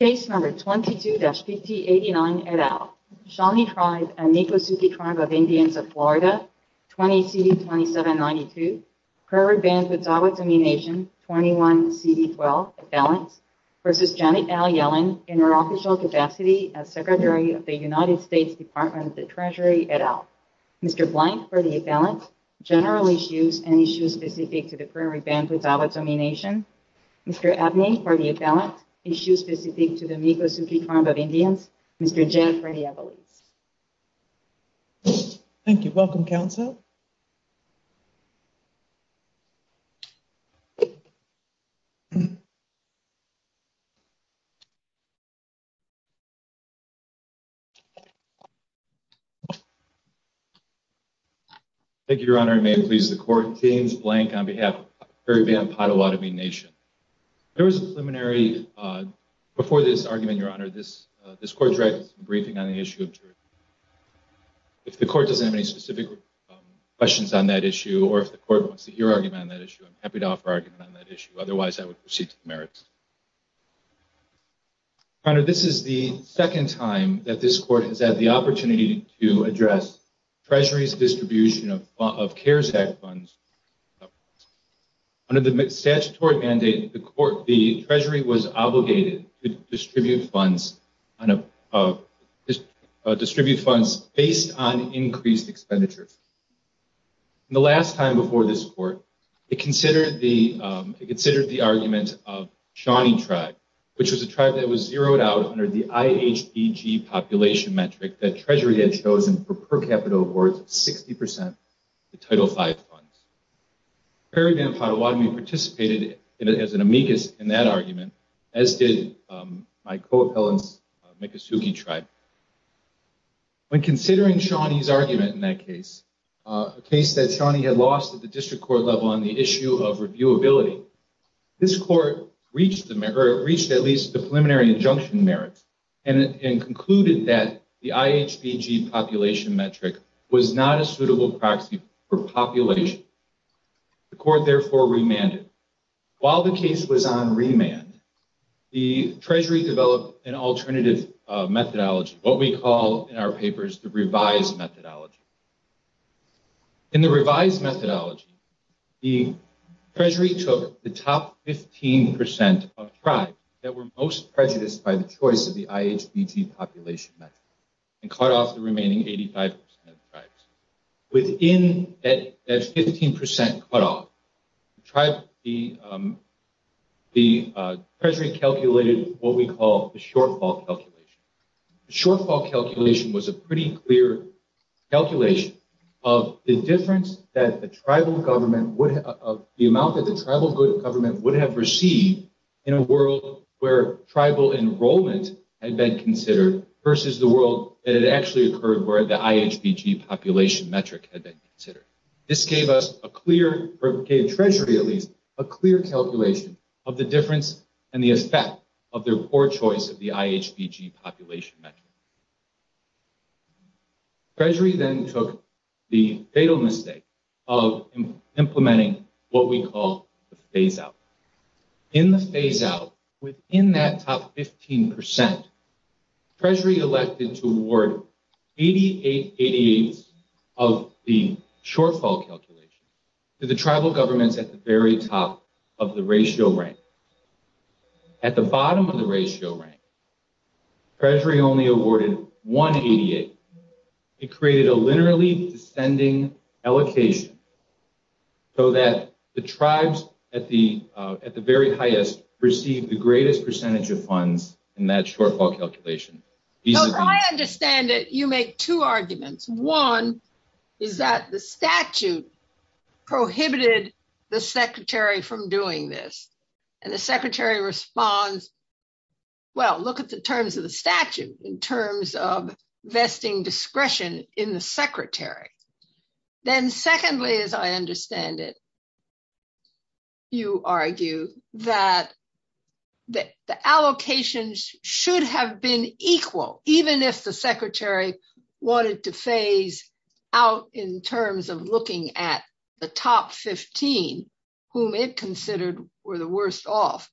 Case No. 22-PT89 et al. Shawnee Tribe and Nikosuke Tribe of Indians of Florida, 20 CD 2792, Primary Bandhood Zawah Domination, 21 CD 12, effelents, v. Janet L. Yellen, in her official capacity as Secretary of the United States Department of the Treasury et al. Mr. Blank for the effelents, general issues, and issues specific to the Primary Bandhood Zawah Domination. Mr. Abney for the effelents, issues specific to the Nikosuke Tribe of Indians. Mr. Jeff for the effelents. Thank you. Welcome, Counsel. Thank you, Your Honor, and may it please the Court, James Blank on behalf of the Primary Bandhood Zawah Domination. There was a preliminary, before this argument, Your Honor, this Court directed some briefing on the issue of jurisdiction. If the Court doesn't have any specific questions on that issue or if the Court wants to hear argument on that issue, I'm happy to offer argument on that issue. Otherwise, I would proceed to the merits. Your Honor, this is the second time that this Court has had the opportunity to address Treasury's distribution of CARES Act funds. Under the statutory mandate, the Treasury was obligated to distribute funds based on increased expenditures. The last time before this Court, it considered the argument of Shawnee Tribe, which was a tribe that was zeroed out under the IHBG population metric that Treasury had chosen for per capita worth 60% of the Title V funds. The Primary Bandhood Zawah Domination participated as an amicus in that argument, as did my co-appellants, Nikosuke Tribe. When considering Shawnee's argument in that case, a case that Shawnee had lost at the district court level on the issue of reviewability, this Court reached at least the preliminary injunction merits and concluded that the IHBG population metric was not a suitable proxy for population. The Court therefore remanded. While the case was on remand, the Treasury developed an alternative methodology, what we call in our papers the revised methodology. In the revised methodology, the Treasury took the top 15% of tribes that were most prejudiced by the choice of the IHBG population metric and cut off the remaining 85% of the tribes. Within that 15% cutoff, the Treasury calculated what we call the shortfall calculation. The shortfall calculation was a pretty clear calculation of the difference that the amount that the tribal government would have received in a world where tribal enrollment had been considered versus the world that it actually occurred where the IHBG population metric had been considered. This gave Treasury at least a clear calculation of the difference and the effect of their poor choice of the IHBG population metric. Treasury then took the fatal mistake of implementing what we call the phase-out. In the phase-out, within that top 15%, Treasury elected to award 88 88s of the shortfall calculation to the tribal governments at the very top of the ratio rank. At the bottom of the ratio rank, Treasury only awarded one 88. It created a linearly descending allocation so that the tribes at the very highest received the greatest percentage of funds in that shortfall calculation. I understand that you make two arguments. One is that the statute prohibited the Secretary from doing this. And the Secretary responds, well, look at the terms of the statute in terms of vesting discretion in the Secretary. Then secondly, as I understand it, you argue that the allocations should have been equal, even if the Secretary wanted to phase out in terms of looking at the top 15, whom it considered were the worst off.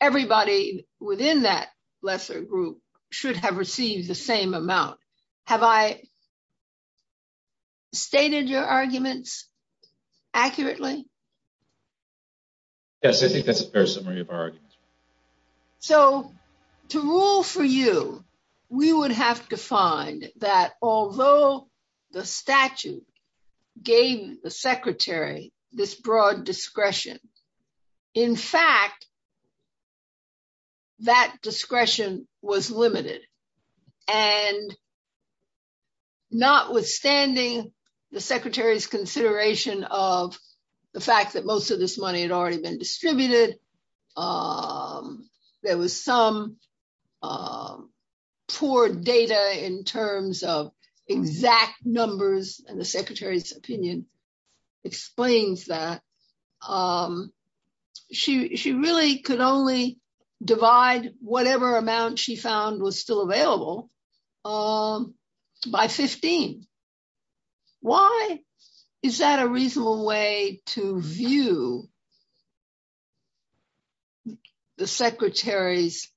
Everybody within that lesser group should have received the same amount. Have I stated your arguments accurately? Yes, I think that's a fair summary of our arguments. So to rule for you, we would have to find that although the statute gave the Secretary this broad discretion, in fact, that discretion was limited. And notwithstanding the Secretary's consideration of the fact that most of this money had already been distributed, there was some poor data in terms of exact numbers, and the Secretary's opinion explains that. She really could only divide whatever amount she found was still available by 15. Why is that a reasonable way to view the Secretary's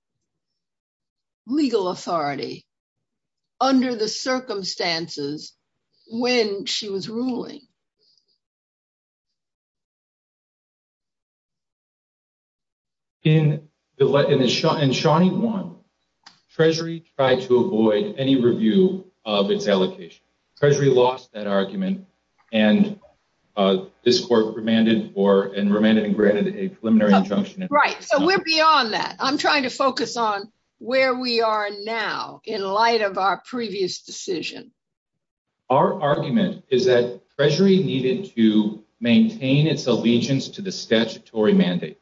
legal authority under the circumstances when she was ruling? In Shawnee 1, Treasury tried to avoid any review of its allocation. Treasury lost that argument, and this court remanded and granted a preliminary injunction. Right, so we're beyond that. I'm trying to focus on where we are now in light of our previous decision. Our argument is that Treasury needed to maintain its allegiance to the statutory mandate.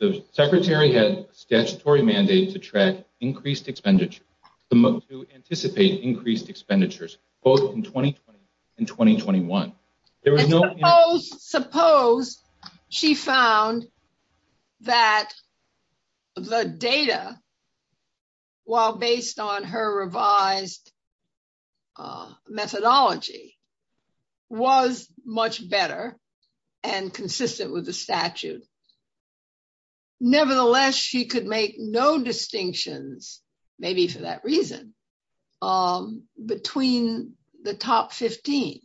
The Secretary had a statutory mandate to track increased expenditure, to anticipate increased expenditures, both in 2020 and 2021. Suppose she found that the data, while based on her revised methodology, was much better and consistent with the statute. Nevertheless, she could make no distinctions, maybe for that reason, between the top 15.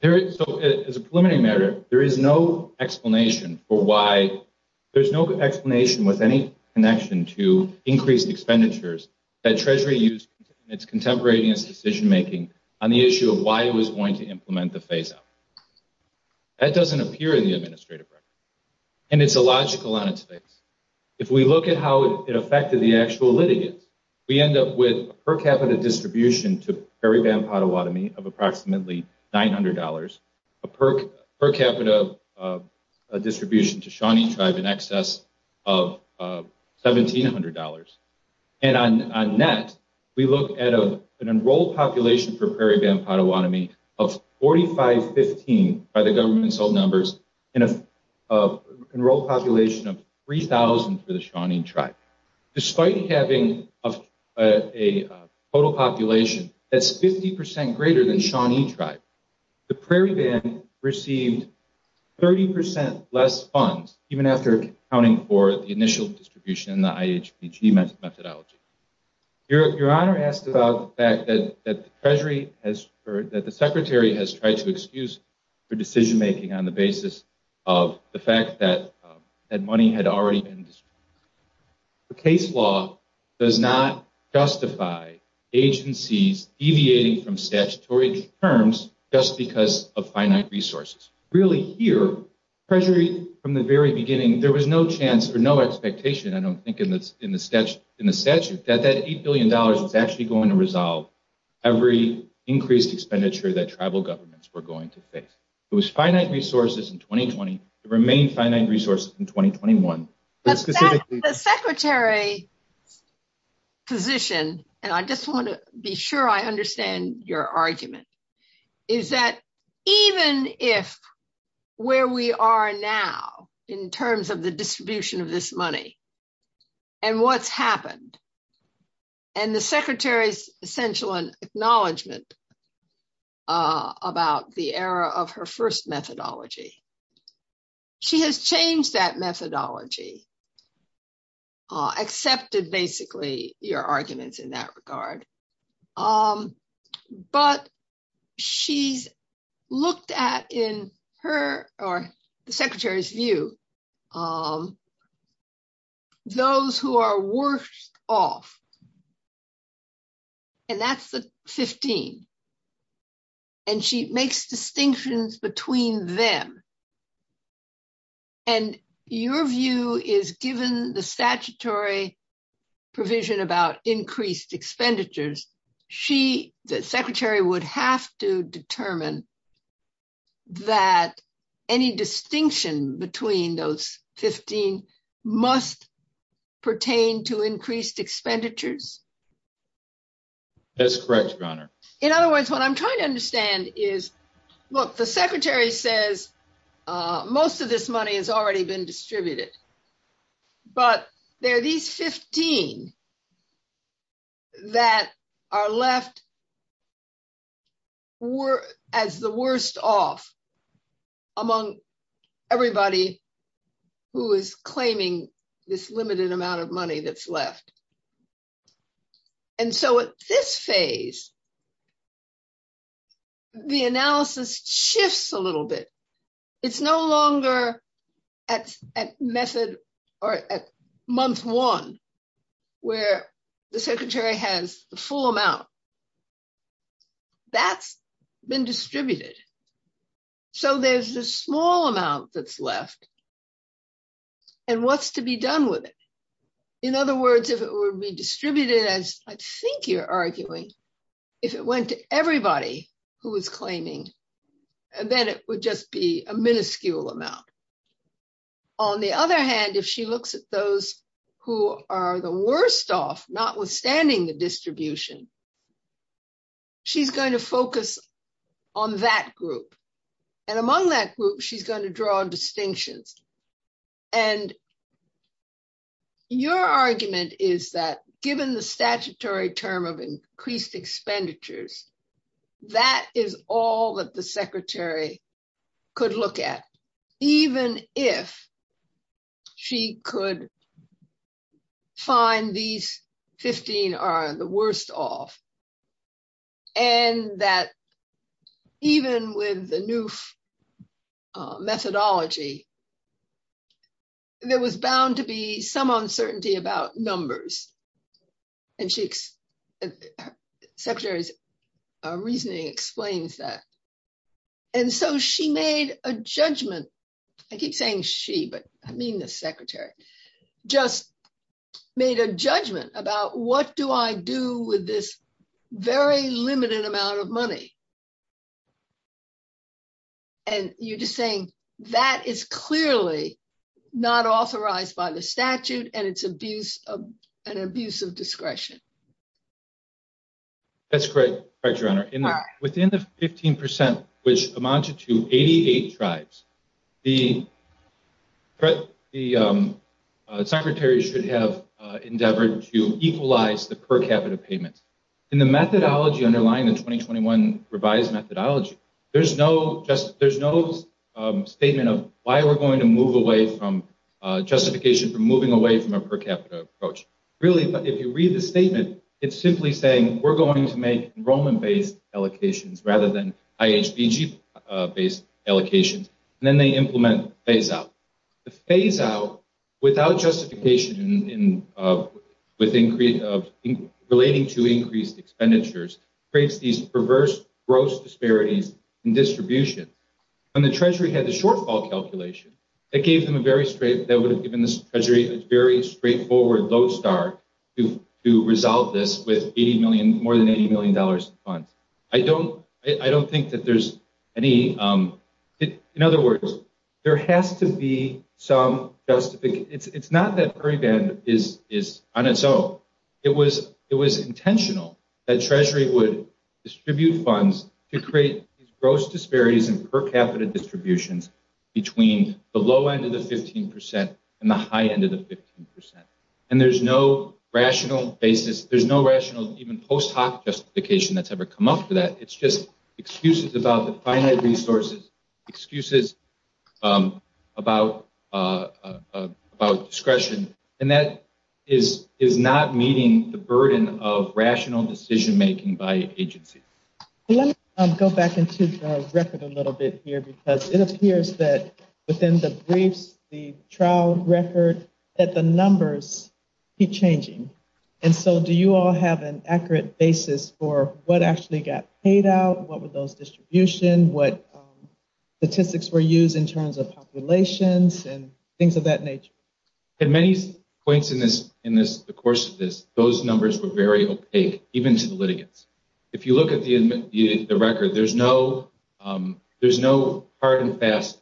As a preliminary matter, there is no explanation for why there's no explanation with any connection to increased expenditures that Treasury used in its contemporaneous decision-making on the issue of why it was going to implement the phase-out. That doesn't appear in the administrative record, and it's illogical on its face. If we look at how it affected the actual litigants, we end up with a per capita distribution to Prairie Band Potawatomi of approximately $900, a per capita distribution to Shawnee Tribe in excess of $1,700. And on net, we look at an enrolled population for Prairie Band Potawatomi of 4515 by the government's old numbers, and an enrolled population of 3,000 for the Shawnee Tribe. Despite having a total population that's 50% greater than Shawnee Tribe, the Prairie Band received 30% less funds, even after accounting for the initial distribution in the IHBG methodology. Your Honor asked about the fact that the Secretary has tried to excuse for decision-making on the basis of the fact that money had already been distributed. The case law does not justify agencies deviating from statutory terms just because of finite resources. Really here, from the very beginning, there was no chance or no expectation, I don't think in the statute, that that $8 billion was actually going to resolve every increased expenditure that tribal governments were going to face. It was finite resources in 2020 that remained finite resources in 2021. The Secretary's position, and I just want to be sure I understand your argument, is that even if where we are now in terms of the distribution of this money and what's happened, and the Secretary's essential acknowledgement about the error of her first methodology, she has changed that methodology, accepted basically your arguments in that regard. But she's looked at in her or the Secretary's view, those who are worse off, and that's the 15. And she makes distinctions between them. And your view is given the statutory provision about increased expenditures, the Secretary would have to determine that any distinction between those 15 must pertain to increased expenditures? In other words, what I'm trying to understand is, look, the Secretary says most of this money has already been distributed. But there are these 15 that are left as the worst off among everybody who is claiming this limited amount of money that's left. And so at this phase, the analysis shifts a little bit. It's no longer at month one, where the Secretary has the full amount. That's been distributed. So there's this small amount that's left. And what's to be done with it? In other words, if it were redistributed, as I think you're arguing, if it went to everybody who is claiming, then it would just be a minuscule amount. On the other hand, if she looks at those who are the worst off, notwithstanding the distribution, she's going to focus on that group. And among that group, she's going to draw distinctions. And your argument is that given the statutory term of increased expenditures, that is all that the Secretary could look at, even if she could find these 15 are the worst off. And that even with the new methodology, there was bound to be some uncertainty about numbers. And the Secretary's reasoning explains that. And so she made a judgment. I keep saying she, but I mean the Secretary, just made a judgment about what do I do with this very limited amount of money. And you're just saying that is clearly not authorized by the statute and it's an abuse of discretion. That's correct, Your Honor. Within the 15 percent, which amounted to 88 tribes, the Secretary should have endeavored to equalize the per capita payments. In the methodology underlying the 2021 revised methodology, there's no statement of why we're going to move away from justification for moving away from a per capita approach. Really, if you read the statement, it's simply saying we're going to make enrollment-based allocations rather than IHBG-based allocations. And then they implement phase-out. The phase-out, without justification relating to increased expenditures, creates these perverse gross disparities in distribution. And the Treasury had the shortfall calculation that would have given the Treasury a very straightforward low start to resolve this with more than $80 million in funds. I don't think that there's any. In other words, there has to be some justification. It's not that Puriband is on its own. It was intentional that Treasury would distribute funds to create gross disparities in per capita distributions between the low end of the 15 percent and the high end of the 15 percent. And there's no rational basis. There's no rational even post hoc justification that's ever come up for that. It's just excuses about the finite resources, excuses about discretion. And that is not meeting the burden of rational decision-making by agency. Let me go back into the record a little bit here because it appears that within the briefs, the trial record, that the numbers keep changing. And so do you all have an accurate basis for what actually got paid out? What were those distributions? What statistics were used in terms of populations and things of that nature? At many points in the course of this, those numbers were very opaque, even to the litigants. If you look at the record, there's no hard and fast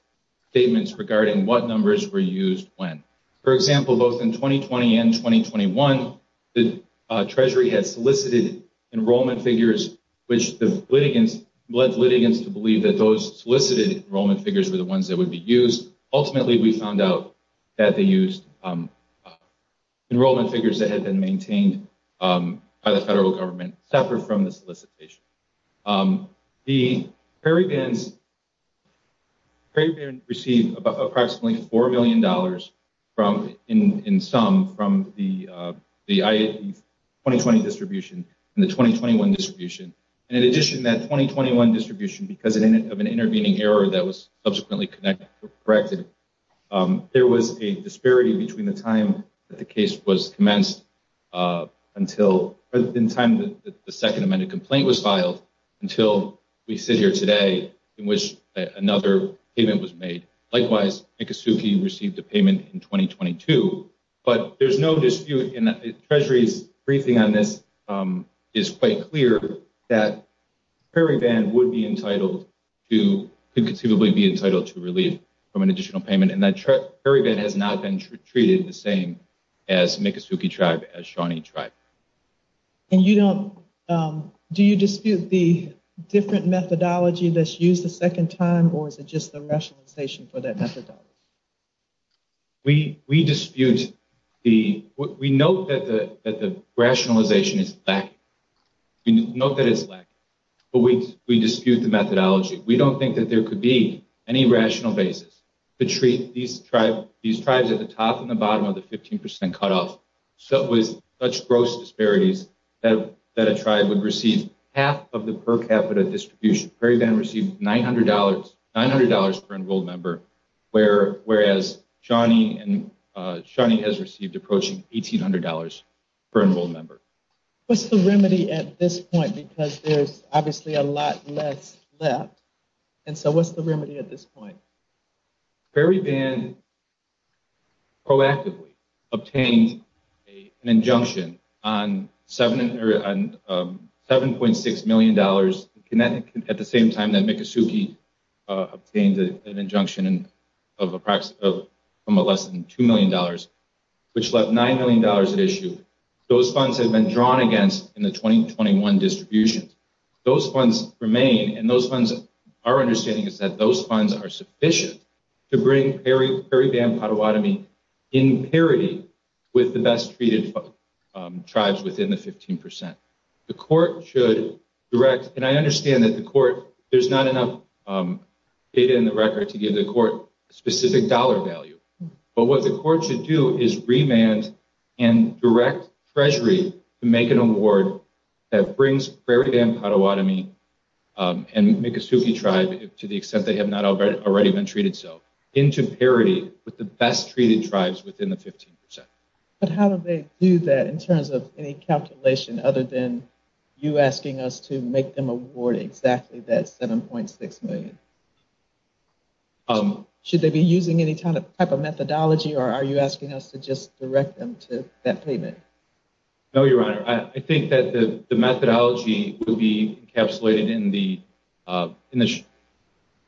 statements regarding what numbers were used when. For example, both in 2020 and 2021, the Treasury had solicited enrollment figures, which led litigants to believe that those solicited enrollment figures were the ones that would be used. Ultimately, we found out that they used enrollment figures that had been maintained by the federal government separate from the solicitation. The Prairie Bands received approximately $4 million in sum from the 2020 distribution and the 2021 distribution. In addition, that 2021 distribution, because of an intervening error that was subsequently corrected, there was a disparity between the time that the case was commenced until the second amended complaint was filed until we sit here today in which another payment was made. Likewise, Miccosukee received a payment in 2022, but there's no dispute in that the Treasury's briefing on this is quite clear that Prairie Band would be entitled to relief from an additional payment. Prairie Band has not been treated the same as Miccosukee Tribe, as Shawnee Tribe. Do you dispute the different methodology that's used the second time, or is it just the rationalization for that methodology? We note that the rationalization is lacking, but we dispute the methodology. We don't think that there could be any rational basis to treat these tribes at the top and the bottom of the 15% cutoff with such gross disparities that a tribe would receive half of the per capita distribution. Prairie Band received $900 per enrolled member, whereas Shawnee has received approaching $1,800 per enrolled member. What's the remedy at this point? Because there's obviously a lot less left, and so what's the remedy at this point? Prairie Band proactively obtained an injunction on $7.6 million at the same time that Miccosukee obtained an injunction from less than $2 million, which left $9 million at issue. Those funds have been drawn against in the 2021 distributions. Those funds remain, and our understanding is that those funds are sufficient to bring Prairie Band Potawatomi in parity with the best treated tribes within the 15%. The court should direct, and I understand that the court, there's not enough data in the record to give the court specific dollar value, but what the court should do is remand and direct treasury to make an award that brings Prairie Band Potawatomi and Miccosukee tribe, to the extent they have not already been treated so, into parity with the best treated tribes within the 15%. But how do they do that in terms of any calculation other than you asking us to make them award exactly that $7.6 million? Should they be using any type of methodology, or are you asking us to just direct them to that payment? No, Your Honor. I think that the methodology would be encapsulated in the,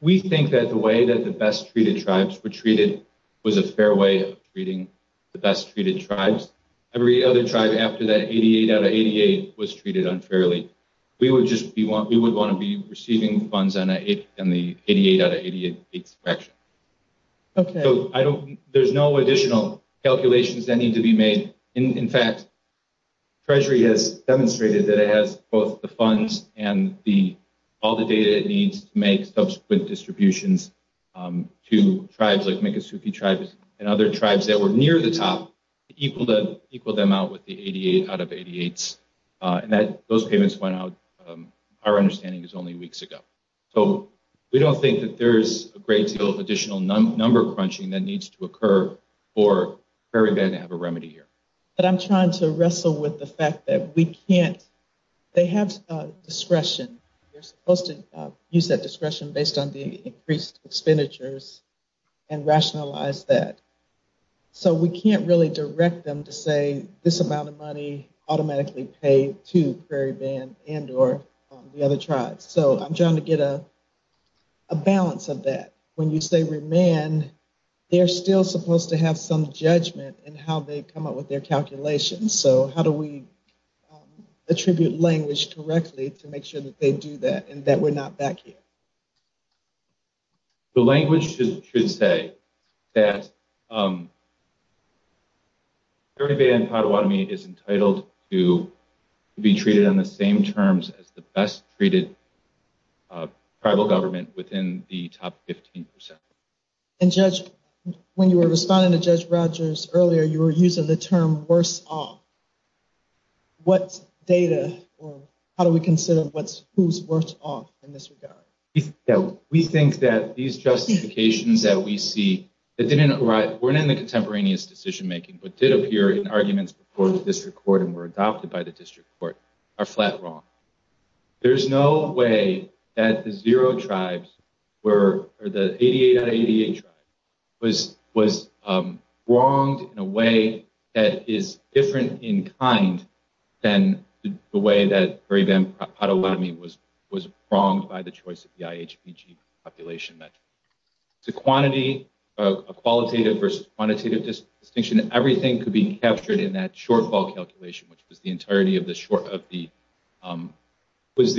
we think that the way that the best treated tribes were treated was a fair way of treating the best treated tribes. Every other tribe after that 88 out of 88 was treated unfairly. We would just want to be receiving funds on the 88 out of 88 fraction. Okay. So I don't, there's no additional calculations that need to be made. In fact, Treasury has demonstrated that it has both the funds and all the data it needs to make subsequent distributions to tribes like Miccosukee tribes and other tribes that were near the top, equal them out with the 88 out of 88s. And those payments went out, our understanding is only weeks ago. So we don't think that there's a great deal of additional number crunching that needs to occur for Prairie Band to have a remedy here. But I'm trying to wrestle with the fact that we can't, they have discretion. They're supposed to use that discretion based on the increased expenditures and rationalize that. So we can't really direct them to say this amount of money automatically paid to Prairie Band and or the other tribes. So I'm trying to get a balance of that. When you say remand, they're still supposed to have some judgment in how they come up with their calculations. So how do we attribute language correctly to make sure that they do that and that we're not back here? The language should say that Prairie Band and Pottawatomie is entitled to be treated on the same terms as the best treated tribal government within the top 15%. And Judge, when you were responding to Judge Rogers earlier, you were using the term worse off. What data or how do we consider who's worse off in this regard? We think that these justifications that we see that weren't in the contemporaneous decision making but did appear in arguments before the district court and were adopted by the district court are flat wrong. There's no way that the zero tribes or the 88 out of 88 tribes was wronged in a way that is different in kind than the way that Prairie Band and Pottawatomie was wronged by the choice of the IHPG population metric. It's a quantity, a qualitative versus quantitative distinction. Everything could be captured in that shortfall calculation, which was the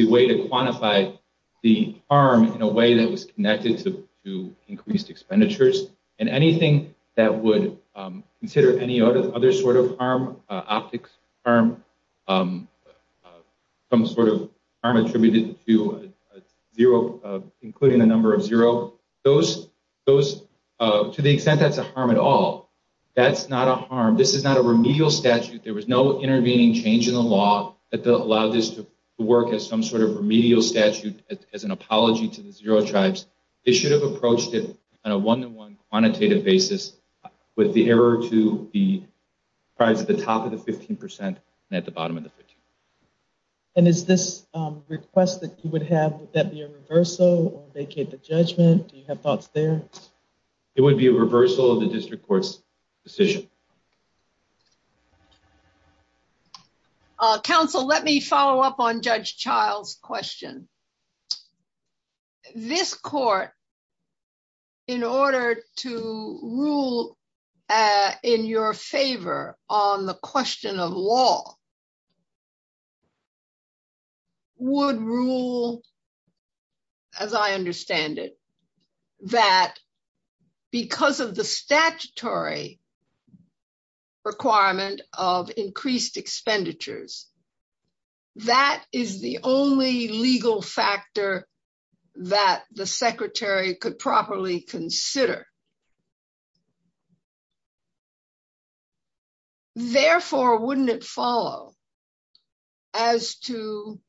way to quantify the harm in a way that was connected to increased expenditures. And anything that would consider any other sort of harm, optics harm, some sort of harm attributed to zero, including the number of zero, to the extent that's a harm at all, that's not a harm. In the original statute, there was no intervening change in the law that allowed this to work as some sort of remedial statute as an apology to the zero tribes. They should have approached it on a one-to-one quantitative basis with the error to the tribes at the top of the 15% and at the bottom of the 15%. And is this request that you would have, would that be a reversal or vacate the judgment? Do you have thoughts there? It would be a reversal of the district court's decision. Counsel, let me follow up on Judge Child's question. This court, in order to rule in your favor on the question of law, would rule, as I understand it, that because of the statutory requirement of increased expenditures, that is the only legal factor that the secretary could properly consider. Therefore, wouldn't it follow as to,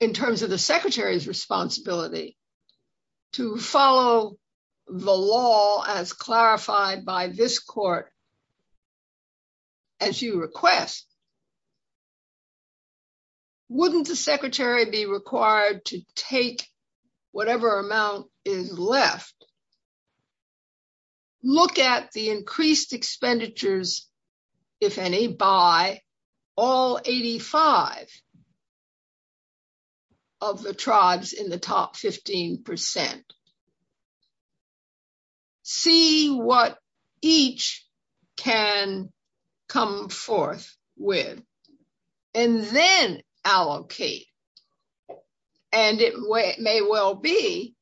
in terms of the secretary's responsibility, to follow the law as clarified by this court, as you request, wouldn't the secretary be required to take whatever amount is left, look at the increased expenditures, if any, by all 85 of the tribes in the top 15%, see what each can come forth with, and then allocate? And it may well be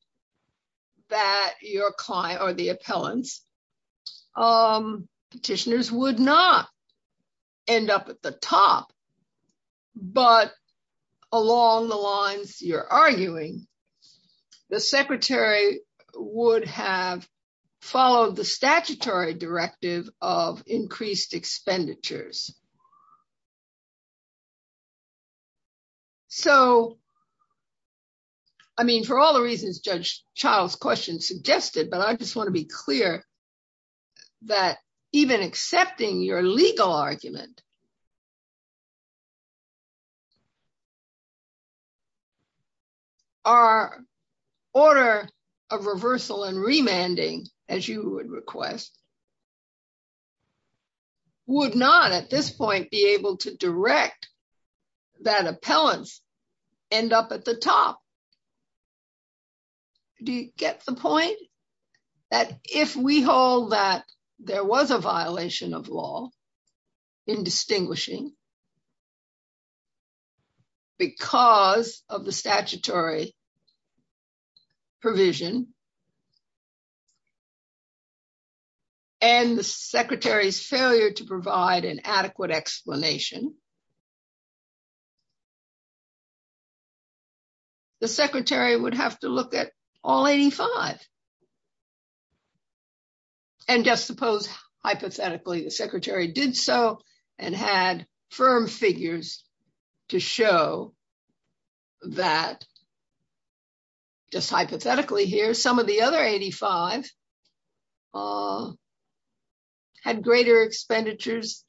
that your client or the appellants, petitioners, would not end up at the top. But along the lines you're arguing, the secretary would have followed the statutory directive of increased expenditures. So, I mean, for all the reasons Judge Child's question suggested, but I just want to be clear that even accepting your legal argument, our order of reversal and remanding, as you would request, would not at this point be able to direct that appellants end up at the top. Do you get the point? That if we hold that there was a violation of law in distinguishing, because of the statutory provision, and the secretary's failure to provide an adequate explanation, the secretary would have to look at all 85. And just suppose, hypothetically, the secretary did so, and had firm figures to show that, just hypothetically here, some of the other 85 had greater expenditures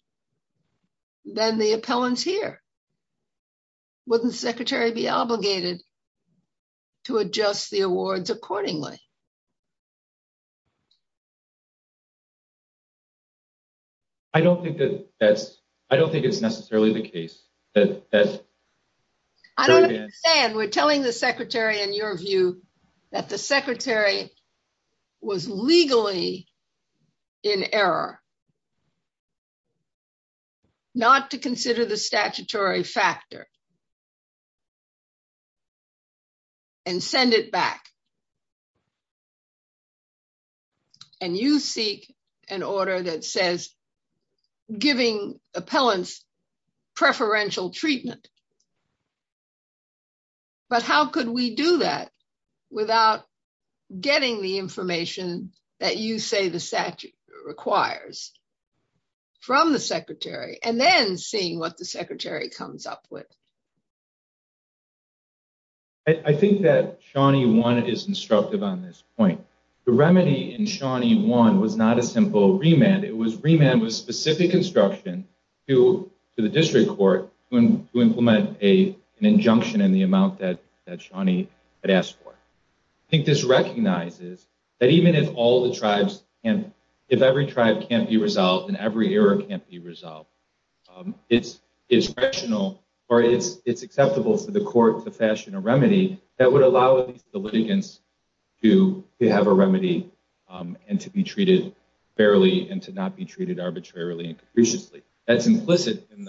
than the appellants here. Wouldn't the secretary be obligated to adjust the awards accordingly? I don't think that's, I don't think it's necessarily the case. I don't understand. We're telling the secretary, in your view, that the secretary was legally in error, not to consider the statutory factor, and send it back. And you seek an order that says, giving appellants preferential treatment. But how could we do that without getting the information that you say the statute requires from the secretary, and then seeing what the secretary comes up with? I think that Shawnee 1 is instructive on this point. The remedy in Shawnee 1 was not a simple remand. It was remand with specific instruction to the district court to implement an injunction in the amount that Shawnee had asked for. I think this recognizes that even if all the tribes, if every tribe can't be resolved, and every error can't be resolved, it's rational, or it's acceptable for the court to fashion a remedy that would allow the litigants to have a remedy, and to be treated fairly, and to not be treated arbitrarily and capriciously. That's implicit in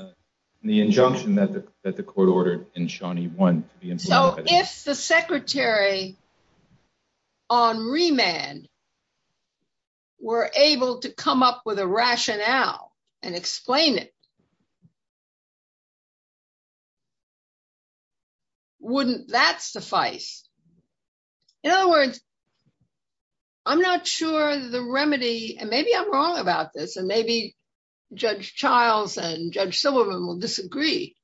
the injunction that the court ordered in Shawnee 1. So if the secretary on remand were able to come up with a rationale and explain it, wouldn't that suffice? In other words, I'm not sure the remedy, and maybe I'm wrong about this, and maybe Judge Childs and Judge Sullivan will disagree.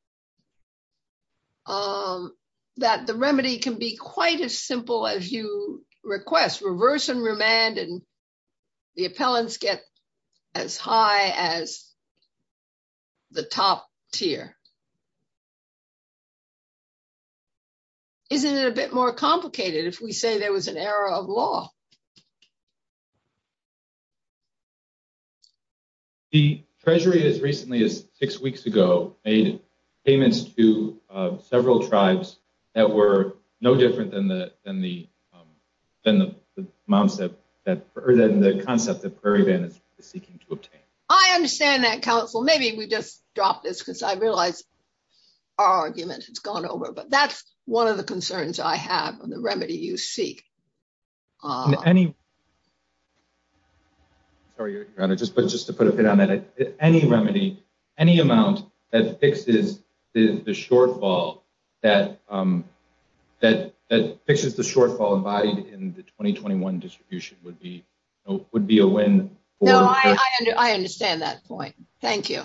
I think that the remedy can be quite as simple as you request. Reverse and remand, and the appellants get as high as the top tier. Isn't it a bit more complicated if we say there was an error of law? The treasury, as recently as six weeks ago, made payments to several tribes that were no different than the concept that Prairie Band is seeking to obtain. I understand that, counsel. Maybe we just drop this because I realize our argument has gone over, but that's one of the concerns I have on the remedy you seek. Any remedy, any amount that fixes the shortfall embodied in the 2021 distribution would be a win. I understand that point. Thank you.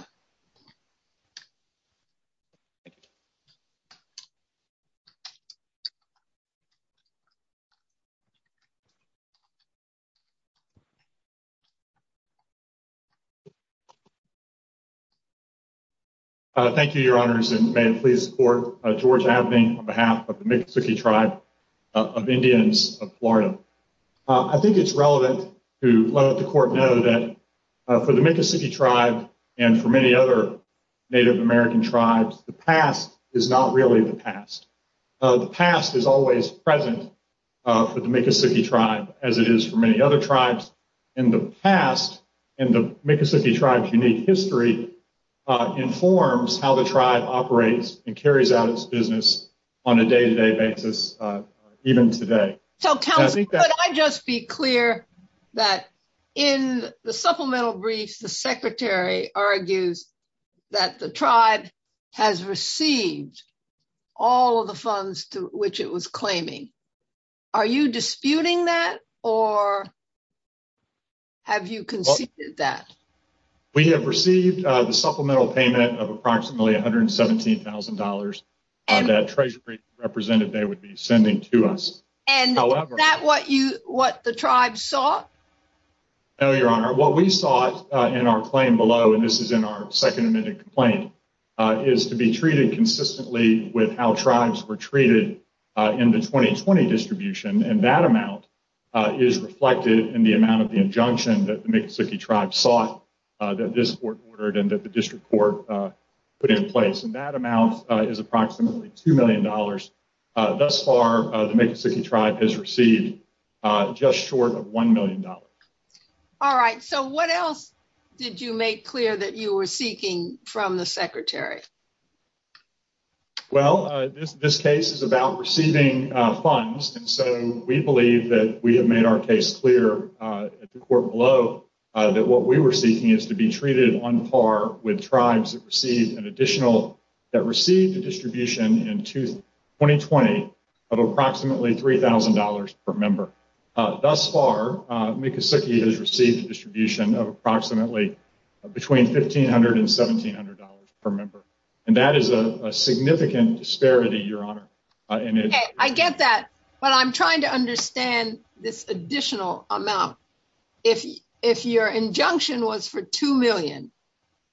Thank you, Your Honors, and may it please the court, George Abney, on behalf of the Miccosukee Tribe of Indians of Florida. I think it's relevant to let the court know that for the Miccosukee Tribe and for many other Native American tribes, the past is not really the past. The past is always present for the Miccosukee Tribe, as it is for many other tribes, and the past and the Miccosukee Tribe's unique history informs how the tribe operates and carries out its business on a day-to-day basis, even today. So, counsel, could I just be clear that in the supplemental briefs, the Secretary argues that the tribe has received all of the funds to which it was claiming. Are you disputing that, or have you conceded that? We have received the supplemental payment of approximately $117,000 that Treasury represented they would be sending to us. Is that what the tribe sought? No, Your Honor. What we sought in our claim below, and this is in our second amended complaint, is to be treated consistently with how tribes were treated in the 2020 distribution, and that amount is reflected in the amount of the injunction that the Miccosukee Tribe sought that this court ordered and that the district court put in place. And that amount is approximately $2 million. Thus far, the Miccosukee Tribe has received just short of $1 million. All right. So what else did you make clear that you were seeking from the Secretary? Well, this case is about receiving funds, and so we believe that we have made our case clear at the court below that what we were seeking is to be treated on par with tribes that received an additional – that received a distribution in 2020 of approximately $3,000 per member. Thus far, Miccosukee has received a distribution of approximately between $1,500 and $1,700 per member, and that is a significant disparity, Your Honor. Okay, I get that, but I'm trying to understand this additional amount. If your injunction was for $2 million,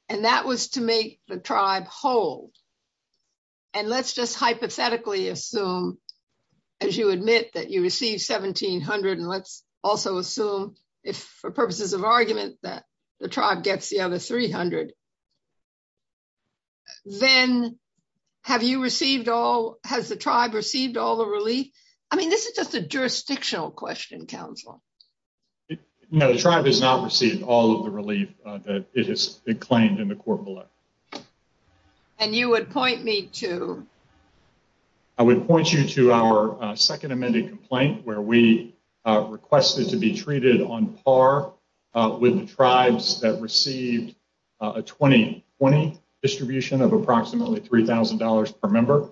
and that was to make the tribe whole, and let's just hypothetically assume, as you admit that you received $1,700, and let's also assume, for purposes of argument, that the tribe gets the other $300, then have you received all – has the tribe received all the relief? I mean, this is just a jurisdictional question, Counselor. No, the tribe has not received all of the relief that it has claimed in the court below. And you would point me to? I would point you to our second amended complaint, where we requested to be treated on par with the tribes that received a 2020 distribution of approximately $3,000 per member.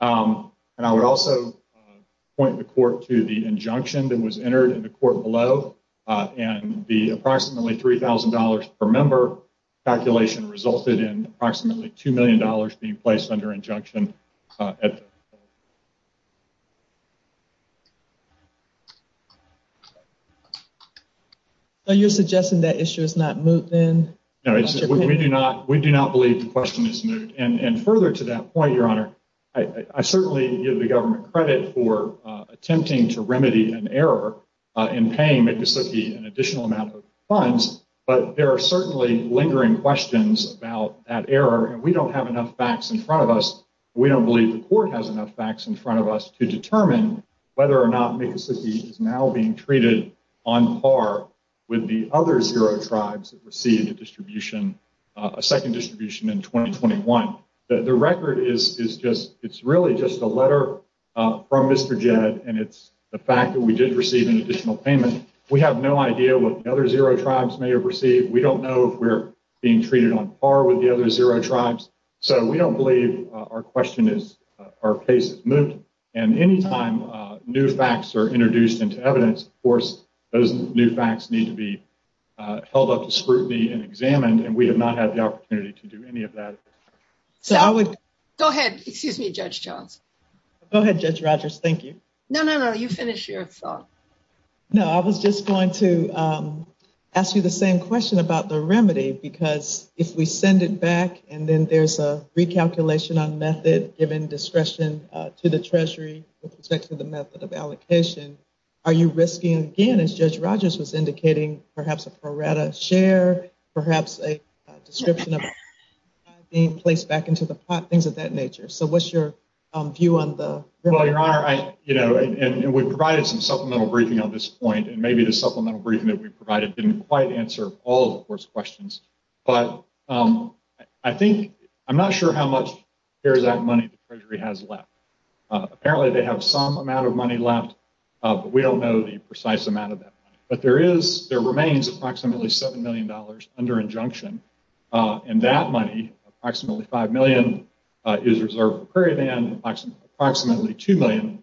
And I would also point the court to the injunction that was entered in the court below, and the approximately $3,000 per member calculation resulted in approximately $2 million being placed under injunction. So, you're suggesting that issue is not moot, then? No, we do not believe the question is moot. And further to that point, Your Honor, I certainly give the government credit for attempting to remedy an error in paying Miccosukee an additional amount of funds, but there are certainly lingering questions about that error, and we don't have enough facts in front of us. We don't believe the court has enough facts in front of us to determine whether or not Miccosukee is now being treated on par with the other zero tribes that received a distribution – a second distribution in 2021. The record is just – it's really just a letter from Mr. Jed, and it's the fact that we did receive an additional payment. We have no idea what the other zero tribes may have received. We don't know if we're being treated on par with the other zero tribes. So, we don't believe our question is – our case is moot, and any time new facts are introduced into evidence, of course, those new facts need to be held up to scrutiny and examined, and we have not had the opportunity to do any of that. So, I would – Go ahead. Excuse me, Judge Johns. Go ahead, Judge Rogers. Thank you. No, no, no. You finish your thought. No, I was just going to ask you the same question about the remedy, because if we send it back and then there's a recalculation on method given discretion to the treasury with respect to the method of allocation, are you risking, again, as Judge Rogers was indicating, perhaps a prorata share, perhaps a description of a tribe being placed back into the pot, things of that nature? So, what's your view on the remedy? Well, Your Honor, I – you know, and we provided some supplemental briefing on this point, and maybe the supplemental briefing that we provided didn't quite answer all of the court's questions, but I think – I'm not sure how much of that money the treasury has left. Apparently, they have some amount of money left, but we don't know the precise amount of that money. But there is – there remains approximately $7 million under injunction, and that money, approximately $5 million, is reserved for Prairie Band. Approximately $2 million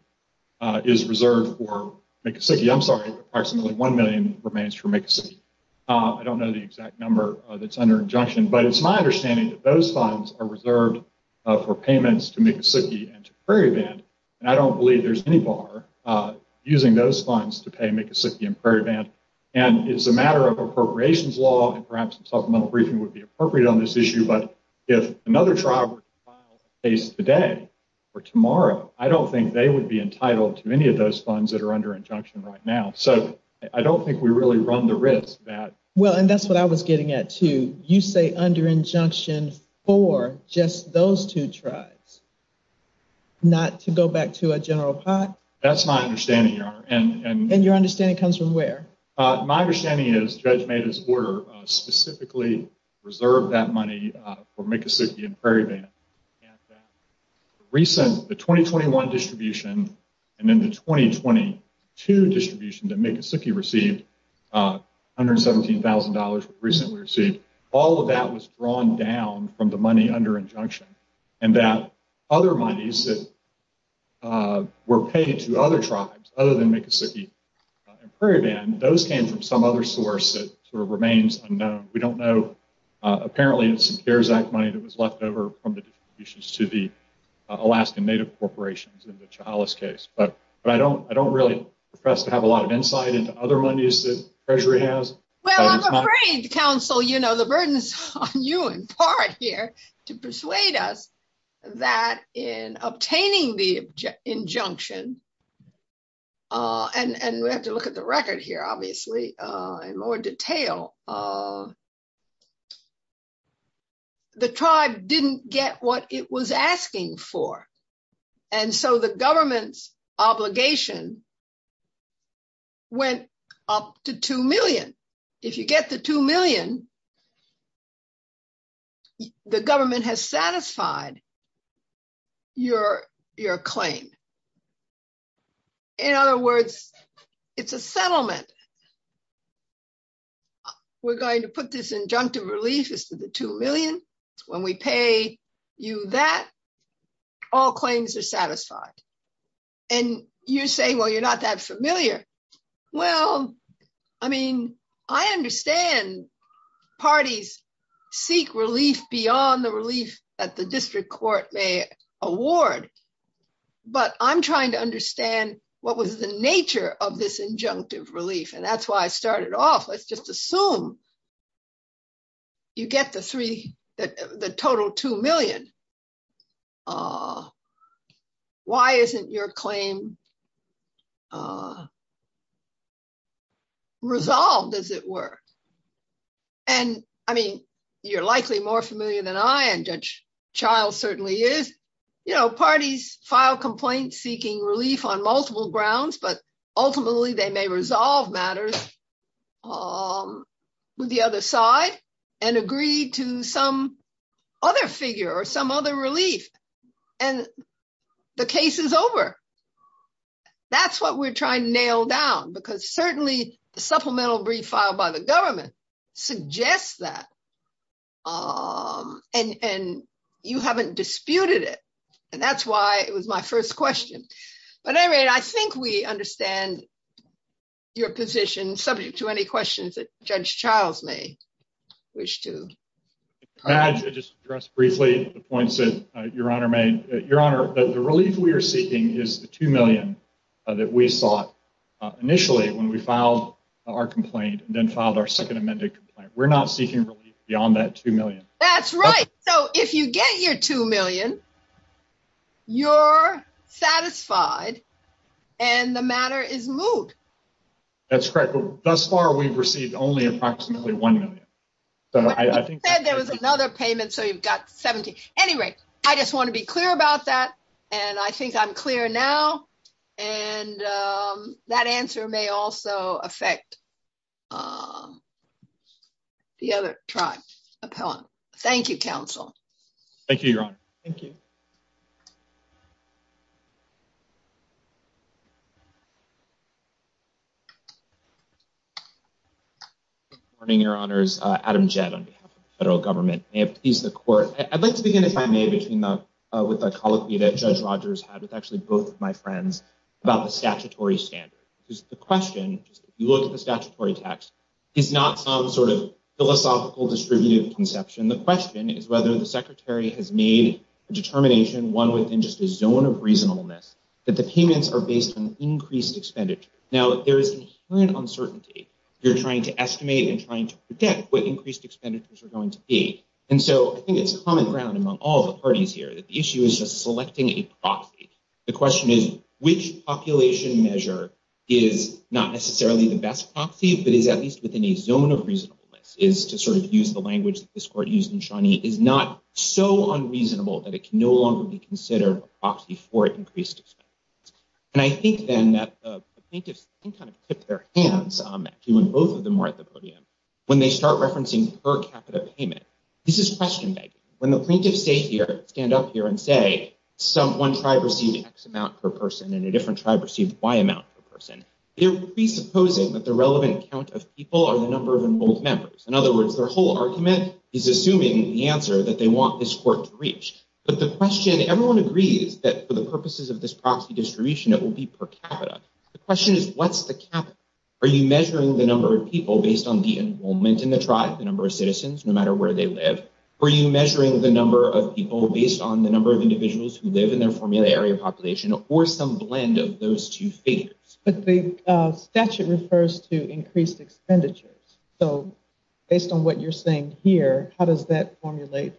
is reserved for Miccosukee. I'm sorry. Approximately $1 million remains for Miccosukee. I don't know the exact number that's under injunction, but it's my understanding that those funds are reserved for payments to Miccosukee and to Prairie Band, and I don't believe there's any bar using those funds to pay Miccosukee and Prairie Band. And it's a matter of appropriations law, and perhaps a supplemental briefing would be appropriate on this issue, but if another trial were to file today or tomorrow, I don't think they would be entitled to any of those funds that are under injunction right now. So, I don't think we really run the risk that – Well, and that's what I was getting at, too. You say under injunction for just those two tribes, not to go back to a general pot? That's my understanding, Your Honor. And your understanding comes from where? My understanding is Judge Maeda's order specifically reserved that money for Miccosukee and Prairie Band. The 2021 distribution and then the 2022 distribution that Miccosukee received, $117,000, all of that was drawn down from the money under injunction. And that other monies that were paid to other tribes other than Miccosukee and Prairie Band, those came from some other source that sort of remains unknown. We don't know. Apparently, it's some CARES Act money that was left over from the distributions to the Alaskan Native Corporations in the Chihalas case. But I don't really profess to have a lot of insight into other monies that Treasury has. Well, I'm afraid, counsel, the burden's on you in part here to persuade us that in obtaining the injunction, and we have to look at the record here, obviously, in more detail, the tribe didn't get what it was asking for. And so the government's obligation went up to $2 million. If you get the $2 million, the government has satisfied your claim. In other words, it's a settlement. We're going to put this injunctive relief to the $2 million. When we pay you that, all claims are satisfied. And you say, well, you're not that familiar. Well, I mean, I understand parties seek relief beyond the relief that the district court may award. But I'm trying to understand what was the nature of this injunctive relief. And that's why I started off. Let's just assume you get the total $2 million. Why isn't your claim resolved, as it were? And, I mean, you're likely more familiar than I am, Judge Child certainly is. You know, parties file complaints seeking relief on multiple grounds, but ultimately they may resolve matters with the other side and agree to some other figure or some other relief. And the case is over. That's what we're trying to nail down, because certainly the supplemental brief filed by the government suggests that. And you haven't disputed it. And that's why it was my first question. But anyway, I think we understand your position, subject to any questions that Judge Child may wish to... Judge, I'll just address briefly the points that Your Honor made. Your Honor, the relief we are seeking is the $2 million that we sought initially when we filed our complaint and then filed our second amended complaint. We're not seeking relief beyond that $2 million. That's right. So if you get your $2 million, you're satisfied, and the matter is moved. That's correct. Thus far, we've received only approximately $1 million. But you said there was another payment, so you've got $17 million. Anyway, I just want to be clear about that. And I think I'm clear now. And that answer may also affect the other tribe appellant. Thank you, Counsel. Good morning, Your Honors. Adam Jett on behalf of the federal government. I have to please the Court. I'd like to begin, if I may, with a colloquy that Judge Rogers had with actually both of my friends about the statutory standard. Because the question, if you look at the statutory text, is not some sort of philosophical, distributive conception. The question is whether the Secretary has made a determination, one within just a zone of reasonableness, that the payments are based on increased expenditure. But there is inherent uncertainty if you're trying to estimate and trying to predict what increased expenditures are going to be. And so I think it's common ground among all the parties here that the issue is just selecting a proxy. The question is, which population measure is not necessarily the best proxy, but is at least within a zone of reasonableness, is to sort of use the language that this Court used in Shawnee, is not so unreasonable that it can no longer be considered a proxy for increased expenditures. And I think, then, that the plaintiffs can kind of tip their hands, actually, when both of them are at the podium, when they start referencing per capita payment. This is question begging. When the plaintiffs stand up here and say, one tribe received X amount per person and a different tribe received Y amount per person, they're presupposing that the relevant count of people are the number of enrolled members. In other words, their whole argument is assuming the answer that they want this Court to reach. But the question, everyone agrees that for the purposes of this proxy distribution, it will be per capita. The question is, what's the capital? Are you measuring the number of people based on the enrollment in the tribe, the number of citizens, no matter where they live? Are you measuring the number of people based on the number of individuals who live in their formula area population or some blend of those two figures? But the statute refers to increased expenditures. So, based on what you're saying here, how does that formulate?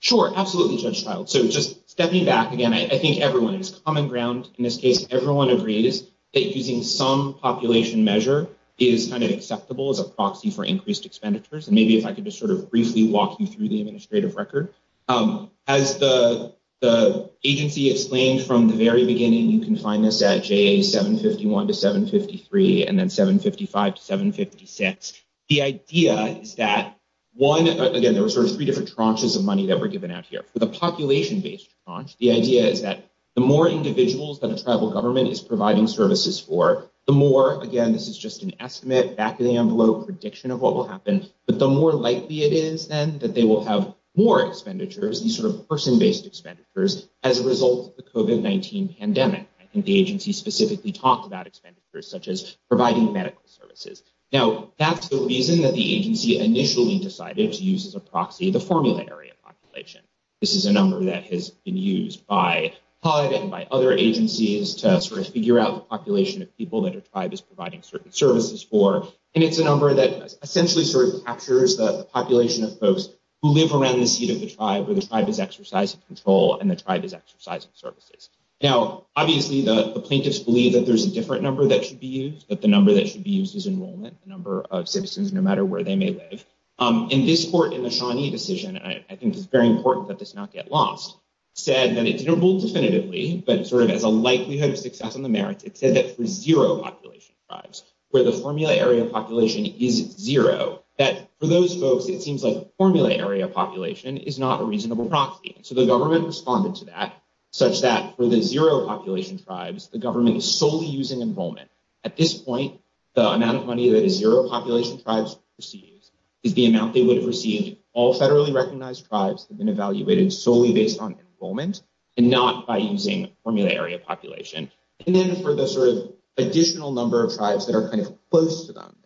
Sure, absolutely, Judge Childs. So, just stepping back again, I think everyone has common ground in this case. Everyone agrees that using some population measure is kind of acceptable as a proxy for increased expenditures. And maybe if I could just sort of briefly walk you through the administrative record. As the agency explained from the very beginning, you can find this at JA 751 to 753 and then 755 to 756. The idea is that, one, again, there were sort of three different tranches of money that were given out here. For the population-based tranche, the idea is that the more individuals that a tribal government is providing services for, the more, again, this is just an estimate, back of the envelope prediction of what will happen. But the more likely it is, then, that they will have more expenditures, these sort of person-based expenditures, as a result of the COVID-19 pandemic. I think the agency specifically talked about expenditures such as providing medical services. Now, that's the reason that the agency initially decided to use as a proxy the formula area population. This is a number that has been used by HUD and by other agencies to sort of figure out the population of people that a tribe is providing certain services for. And it's a number that essentially sort of captures the population of folks who live around the seat of the tribe, where the tribe is exercising control and the tribe is exercising services. Now, obviously, the plaintiffs believe that there's a different number that should be used, that the number that should be used is enrollment, the number of citizens, no matter where they may live. In this court, in the Shawnee decision, and I think it's very important that this not get lost, said that it didn't rule definitively, but sort of as a likelihood of success in the merits, it said that for zero population tribes, where the formula area population is zero, that for those folks, it seems like formula area population is not a reasonable proxy. So the government responded to that, such that for the zero population tribes, the government is solely using enrollment. At this point, the amount of money that a zero population tribes receives is the amount they would have received all federally recognized tribes have been evaluated solely based on enrollment and not by using formula area population. And then for the sort of additional number of tribes that are kind of close to them,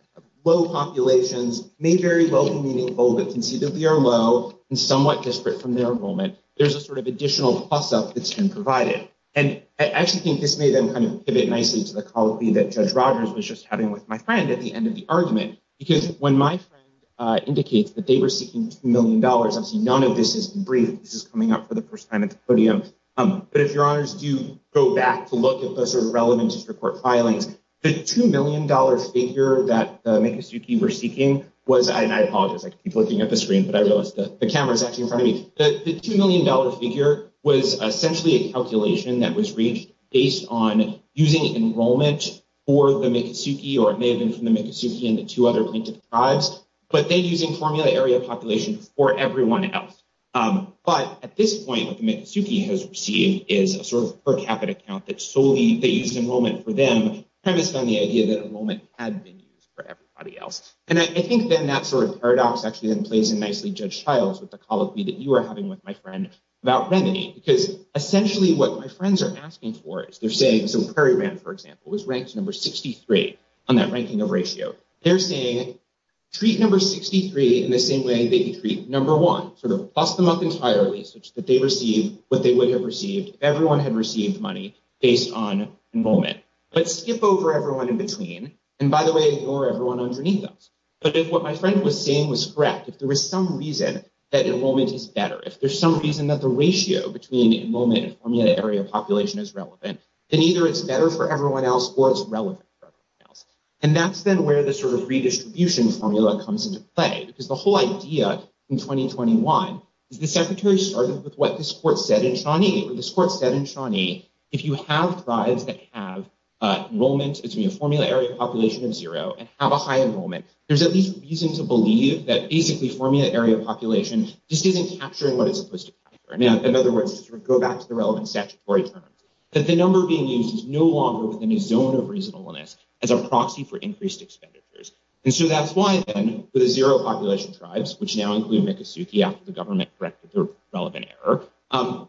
low populations may very well be meaningful, but can see that we are low and somewhat disparate from their enrollment. There's a sort of additional plus up that's been provided. And I actually think this made them kind of pivot nicely to the call that Judge Rogers was just having with my friend at the end of the argument. Because when my friend indicates that they were seeking $2 million, obviously none of this is brief. This is coming up for the first time at the podium. But if your honors do go back to look at those sort of relevant district court filings, the $2 million figure that the Miccosukee were seeking was, and I apologize, I keep looking at the screen, but I realize the camera is actually in front of me. The $2 million figure was essentially a calculation that was reached based on using enrollment for the Miccosukee, or it may have been from the Miccosukee and the two other plaintiff tribes, but they're using formula area population for everyone else. But at this point, what the Miccosukee has received is a sort of per capita count that solely they used enrollment for them, premised on the idea that enrollment had been used for everybody else. And I think then that sort of paradox actually plays in nicely Judge Childs with the call that you were having with my friend about remedy. Because essentially what my friends are asking for is they're saying, so Prairie Rand, for example, was ranked number 63 on that ranking of ratio. They're saying, treat number 63 in the same way that you treat number one, sort of toss them up entirely such that they receive what they would have received if everyone had received money based on enrollment. But skip over everyone in between, and by the way, ignore everyone underneath us. But if what my friend was saying was correct, if there was some reason that enrollment is better, if there's some reason that the ratio between enrollment and formula area population is relevant, then either it's better for everyone else or it's relevant for everyone else. And that's then where the sort of redistribution formula comes into play, because the whole idea in 2021 is the secretary started with what this court said in Shawnee. This court said in Shawnee, if you have tribes that have enrollment, it's going to be a formula area population of zero and have a high enrollment. There's at least reason to believe that basically formula area population just isn't capturing what it's supposed to be. In other words, just to go back to the relevant statutory terms, that the number being used is no longer within a zone of reasonableness as a proxy for increased expenditures. And so that's why then for the zero population tribes, which now include Miccosukee after the government corrected their relevant error,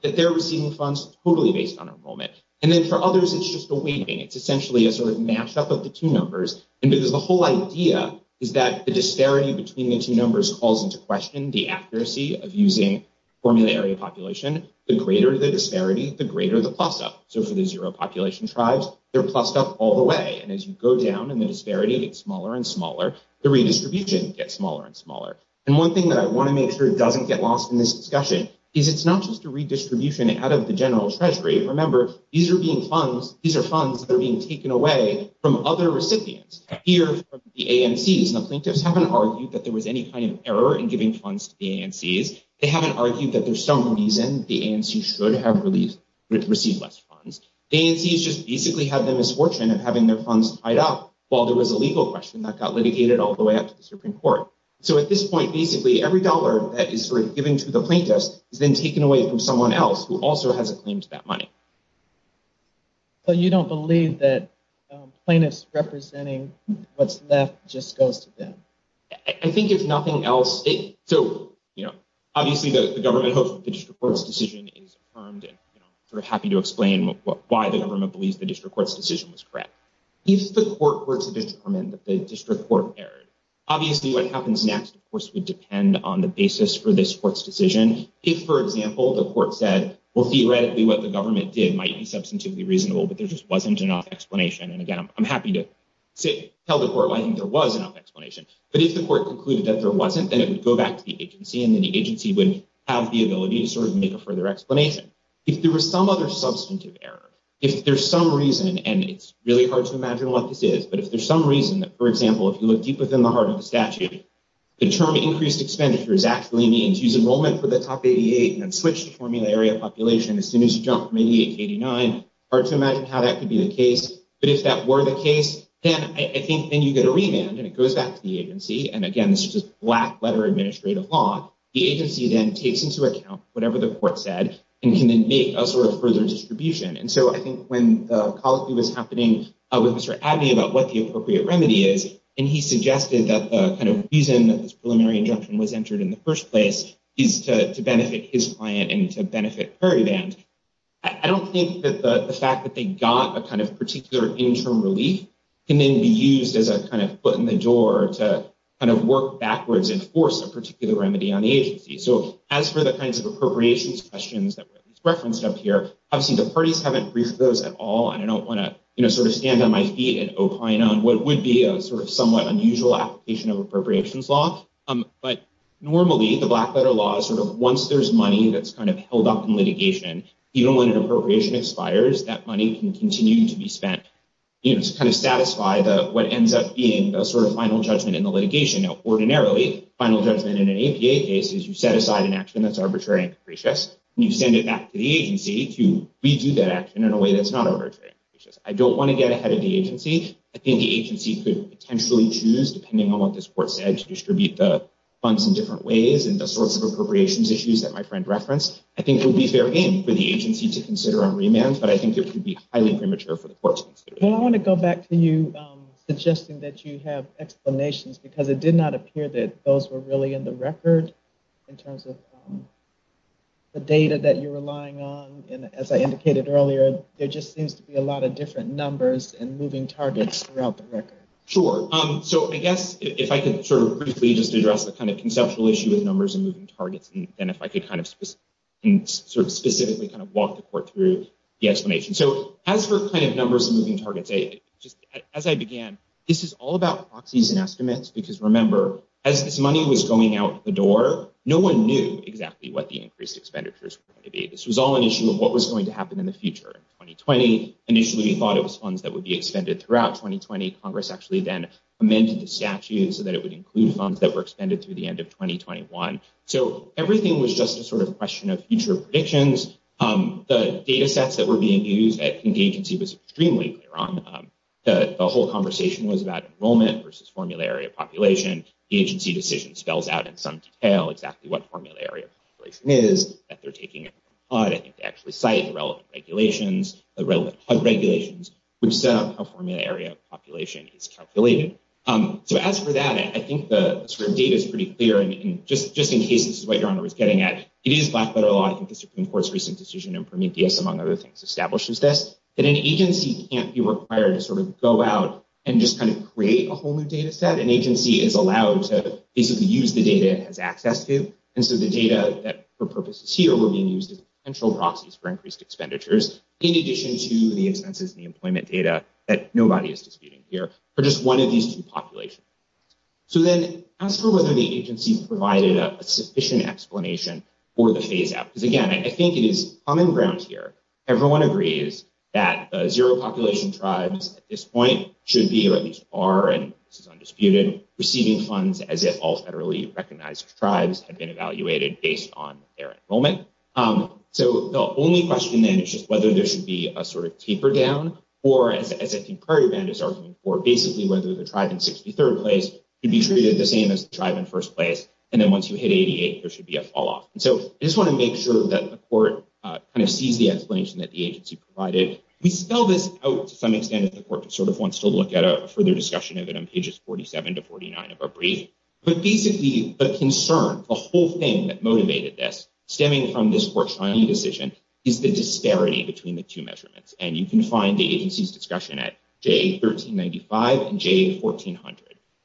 that they're receiving funds totally based on enrollment. And then for others, it's just a weighting. It's essentially a sort of mashup of the two numbers. And because the whole idea is that the disparity between the two numbers calls into question the accuracy of using formula area population, the greater the disparity, the greater the plus up. So for the zero population tribes, they're plussed up all the way. And as you go down and the disparity gets smaller and smaller, the redistribution gets smaller and smaller. And one thing that I want to make sure doesn't get lost in this discussion is it's not just a redistribution out of the general treasury. Remember, these are being funds. These are funds that are being taken away from other recipients. Here from the ANCs, the plaintiffs haven't argued that there was any kind of error in giving funds to the ANCs. They haven't argued that there's some reason the ANCs should have received less funds. The ANCs just basically have the misfortune of having their funds tied up while there was a legal question that got litigated all the way up to the Supreme Court. So at this point, basically every dollar that is given to the plaintiffs is then taken away from someone else who also has a claim to that money. So you don't believe that plaintiffs representing what's left just goes to them? I think if nothing else, so obviously the government hopes that the district court's decision is affirmed. They're happy to explain why the government believes the district court's decision was correct. If the court were to determine that the district court erred, obviously what happens next, of course, would depend on the basis for this court's decision. If, for example, the court said, well, theoretically what the government did might be substantively reasonable, but there just wasn't enough explanation. And again, I'm happy to tell the court why I think there was enough explanation. But if the court concluded that there wasn't, then it would go back to the agency and then the agency would have the ability to sort of make a further explanation. If there was some other substantive error, if there's some reason, and it's really hard to imagine what this is, but if there's some reason that, for example, if you look deep within the heart of the statute, the term increased expenditures actually means use enrollment for the top 88 and then switch to formula area population as soon as you jump from 88 to 89. Hard to imagine how that could be the case. But if that were the case, then I think then you get a remand and it goes back to the agency. And again, this is just black letter administrative law. The agency then takes into account whatever the court said and can then make a sort of further distribution. And so I think when the colloquy was happening with Mr. Abbey about what the appropriate remedy is, and he suggested that the kind of reason that this preliminary injunction was entered in the first place is to benefit his client and to benefit Perry Band, I don't think that the fact that they got a kind of particular interim relief can then be used as a kind of foot in the door to kind of work backwards and enforce a particular remedy on the agency. So as for the kinds of appropriations questions that referenced up here, I've seen the parties haven't reached those at all. And I don't want to sort of stand on my feet and opine on what would be a sort of somewhat unusual application of appropriations law. But normally the black letter law is sort of once there's money that's kind of held up in litigation, even when an appropriation expires, that money can continue to be spent to kind of satisfy what ends up being a sort of final judgment in the litigation. Now, ordinarily, final judgment in an APA case is you set aside an action that's arbitrary and capricious, and you send it back to the agency to redo that action in a way that's not arbitrary and capricious. I don't want to get ahead of the agency. I think the agency could potentially choose, depending on what this court said, to distribute the funds in different ways and the sorts of appropriations issues that my friend referenced. I think it would be fair game for the agency to consider on remand, but I think it could be highly premature for the court to consider it. Well, I want to go back to you suggesting that you have explanations, because it did not appear that those were really in the record in terms of the data that you're relying on. And as I indicated earlier, there just seems to be a lot of different numbers and moving targets throughout the record. Sure. So I guess if I could sort of briefly just address the kind of conceptual issue with numbers and moving targets, and if I could kind of specifically kind of walk the court through the explanation. So as for kind of numbers and moving targets, as I began, this is all about proxies and estimates, because remember, as this money was going out the door, no one knew exactly what the increased expenditures were going to be. This was all an issue of what was going to happen in the future. In 2020, initially we thought it was funds that would be expended throughout 2020. Congress actually then amended the statute so that it would include funds that were expended through the end of 2021. So everything was just a sort of question of future predictions. The data sets that were being used at the agency was extremely clear on them. The whole conversation was about enrollment versus formula area population. The agency decision spells out in some detail exactly what formula area population is, that they're taking it from HUD to actually cite the relevant regulations, the relevant HUD regulations, which set out how formula area population is calculated. So as for that, I think the sort of data is pretty clear, and just in case this is what Your Honor was getting at, it is black-letter law. I think the Supreme Court's recent decision in Prometheus, among other things, establishes this, that an agency can't be required to sort of go out and just kind of create a whole new data set. An agency is allowed to basically use the data it has access to, and so the data that for purposes here were being used as potential proxies for increased expenditures, in addition to the expenses and the employment data that nobody is disputing here, for just one of these two populations. So then as for whether the agency provided a sufficient explanation for the phase-out, because, again, I think it is common ground here. Everyone agrees that zero population tribes at this point should be, or at least are, and this is undisputed, receiving funds as if all federally recognized tribes had been evaluated based on their enrollment. So the only question then is just whether there should be a sort of taper down, or, as I think Prairie Band is arguing for, basically whether the tribe in 63rd place should be treated the same as the tribe in first place, and then once you hit 88, there should be a fall-off. And so I just want to make sure that the court kind of sees the explanation that the agency provided. We spell this out to some extent if the court sort of wants to look at a further discussion of it on pages 47 to 49 of our brief, but basically the concern, the whole thing that motivated this, stemming from this court's final decision, is the disparity between the two measurements. And you can find the agency's discussion at JA1395 and JA1400.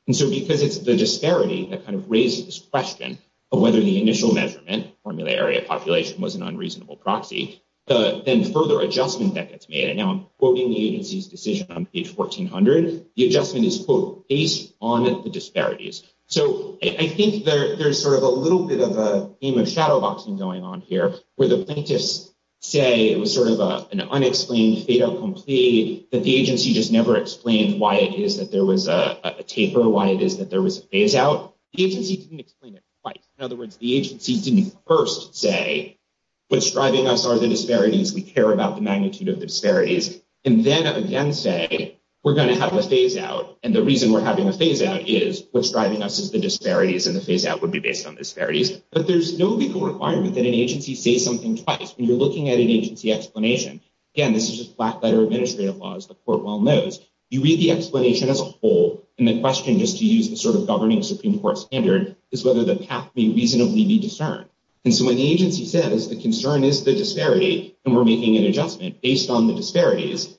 And so because it's the disparity that kind of raises this question of whether the initial measurement, formula area population, was an unreasonable proxy, then further adjustment that gets made. And now I'm quoting the agency's decision on page 1400. The adjustment is, quote, based on the disparities. So I think there's sort of a little bit of a game of shadow boxing going on here, where the plaintiffs say it was sort of an unexplained, fatal complete, that the agency just never explained why it is that there was a taper, why it is that there was a phase-out. The agency didn't explain it quite. In other words, the agency didn't first say, what's driving us are the disparities, we care about the magnitude of the disparities, and then again say, we're going to have a phase-out, and the reason we're having a phase-out is what's driving us is the disparities, and the phase-out would be based on disparities. But there's no legal requirement that an agency say something twice. When you're looking at an agency explanation, again, this is just black-letter administrative laws, the court well knows, you read the explanation as a whole, and the question, just to use the sort of governing Supreme Court standard, is whether the path may reasonably be discerned. And so when the agency says, the concern is the disparity, and we're making an adjustment based on the disparities,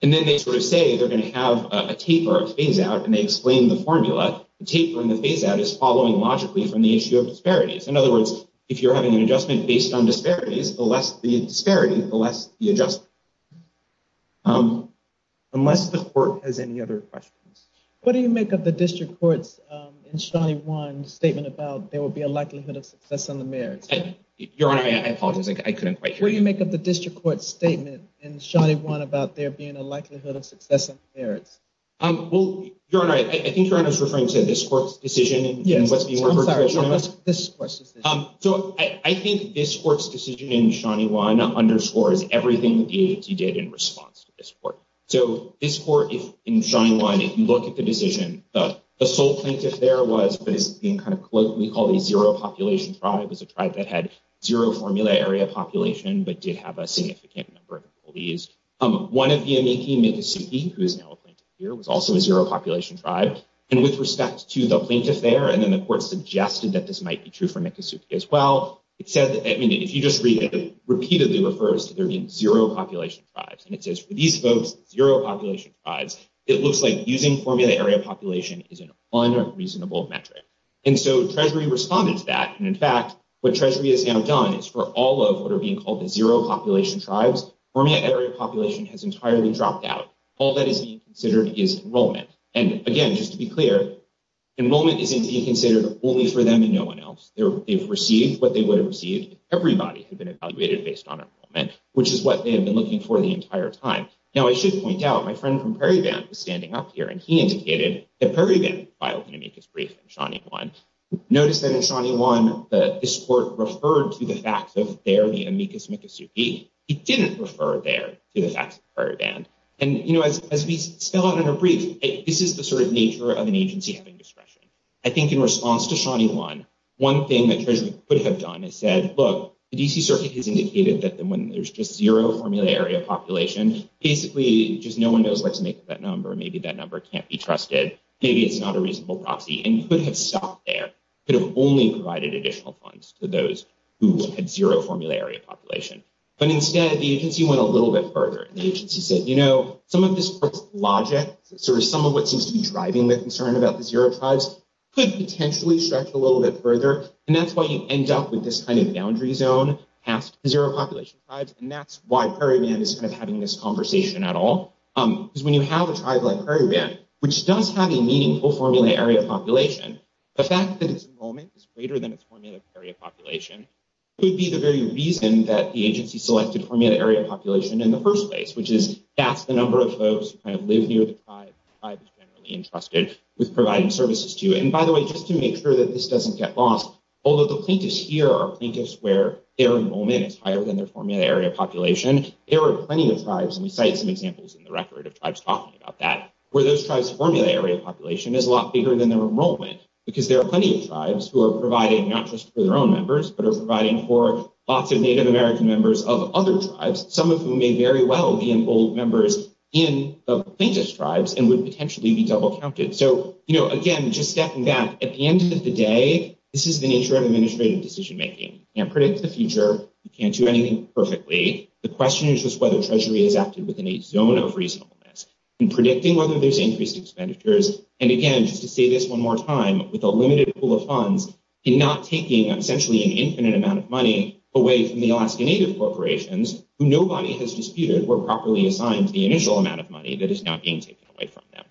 and then they sort of say they're going to have a taper, a phase-out, and they explain the formula, the taper and the phase-out is following logically from the issue of disparities. In other words, if you're having an adjustment based on disparities, the less the disparity, the less the adjustment. Unless the court has any other questions. What do you make of the district court's in Shawnee 1 statement about there will be a likelihood of success on the merits? Your Honor, I apologize, I couldn't quite hear you. What do you make of the district court's statement in Shawnee 1 about there being a likelihood of success on the merits? Well, Your Honor, I think Your Honor is referring to this court's decision and what's being referred to as Shawnee 1. Yes, I'm sorry, this court's decision. So I think this court's decision in Shawnee 1 underscores everything that the agency did in response to this court. So this court, in Shawnee 1, if you look at the decision, the sole plaintiff there was what is being kind of colloquially called a zero-population tribe. It was a tribe that had zero formula area population, but did have a significant number of employees. One of the employees, who is now a plaintiff here, was also a zero-population tribe. And with respect to the plaintiff there, and then the court suggested that this might be true for Nicosuke as well. It said, I mean, if you just read it, it repeatedly refers to there being zero-population tribes. And it says for these folks, zero-population tribes, it looks like using formula area population is an unreasonable metric. And so Treasury responded to that. And in fact, what Treasury has now done is for all of what are being called the zero-population tribes, formula area population has entirely dropped out. All that is being considered is enrollment. And again, just to be clear, enrollment isn't being considered only for them and no one else. They've received what they would have received if everybody had been evaluated based on enrollment, which is what they have been looking for the entire time. Now, I should point out, my friend from Prairie Band was standing up here, and he indicated that Prairie Band filed an amicus brief in Shawnee 1. Notice that in Shawnee 1, this court referred to the facts of there, the amicus micosuke. It didn't refer there to the facts of Prairie Band. And, you know, as we spell out in our brief, this is the sort of nature of an agency having discretion. I think in response to Shawnee 1, one thing that Treasury could have done is said, look, the D.C. Circuit has indicated that when there's just zero formula area population, basically just no one knows what to make of that number. Maybe that number can't be trusted. Maybe it's not a reasonable proxy. And you could have stopped there, could have only provided additional funds to those who had zero formula area population. But instead, the agency went a little bit further. The agency said, you know, some of this logic, sort of some of what seems to be driving the concern about the zero tribes could potentially stretch a little bit further. And that's why you end up with this kind of boundary zone past the zero population tribes. And that's why Prairie Band is kind of having this conversation at all. Because when you have a tribe like Prairie Band, which does have a meaningful formula area population, the fact that its enrollment is greater than its formula area population, could be the very reason that the agency selected formula area population in the first place, which is that's the number of folks who kind of live near the tribe, the tribe is generally entrusted with providing services to. And by the way, just to make sure that this doesn't get lost, although the plaintiffs here are plaintiffs where their enrollment is higher than their formula area population, there are plenty of tribes, and we cite some examples in the record of tribes talking about that, where those tribes' formula area population is a lot bigger than their enrollment. Because there are plenty of tribes who are providing not just for their own members, but are providing for lots of Native American members of other tribes, some of whom may very well be enrolled members in the plaintiff's tribes and would potentially be double counted. So, you know, again, just stepping back, at the end of the day, this is the nature of administrative decision making. You can't predict the future. You can't do anything perfectly. The question is just whether Treasury has acted within a zone of reasonableness. In predicting whether there's increased expenditures, and again, just to say this one more time, with a limited pool of funds, in not taking essentially an infinite amount of money away from the Alaska Native corporations, who nobody has disputed were properly assigned the initial amount of money that is now being taken away from them.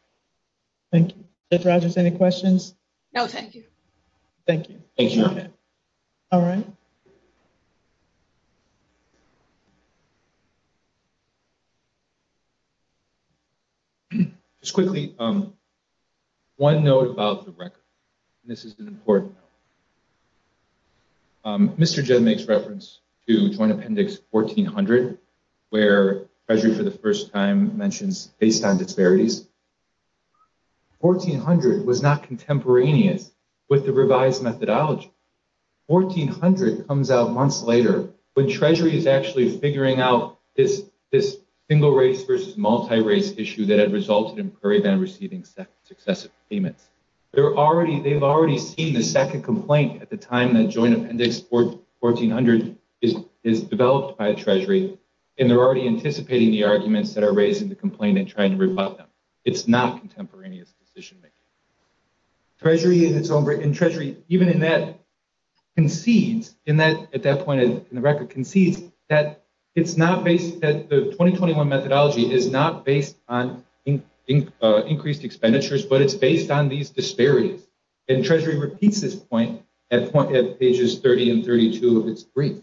Thank you. Judge Rogers, any questions? Thank you. Thank you, Your Honor. All right. Just quickly, one note about the record, and this is an important note. Mr. Jedd makes reference to Joint Appendix 1400, where Treasury for the first time mentions based on disparities. 1400 was not contemporaneous with the revised methodology. 1400 comes out months later, when Treasury is actually figuring out this single race versus multi-race issue that had resulted in Prairie Band receiving successive payments. They've already seen the second complaint at the time that Joint Appendix 1400 is developed by the Treasury, and they're already anticipating the arguments that are raised in the complaint and trying to rebut them. It's not contemporaneous decision-making. Treasury, even in that, concedes, at that point in the record, concedes that the 2021 methodology is not based on increased expenditures, but it's based on these disparities. And Treasury repeats this point at pages 30 and 32 of its brief.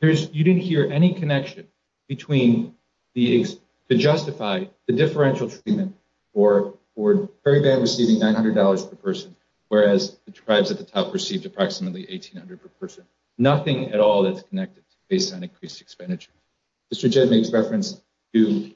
You didn't hear any connection to justify the differential treatment for Prairie Band receiving $900 per person, whereas the tribes at the top received approximately $1,800 per person. Nothing at all is connected based on increased expenditure. Mr. Jedd makes reference to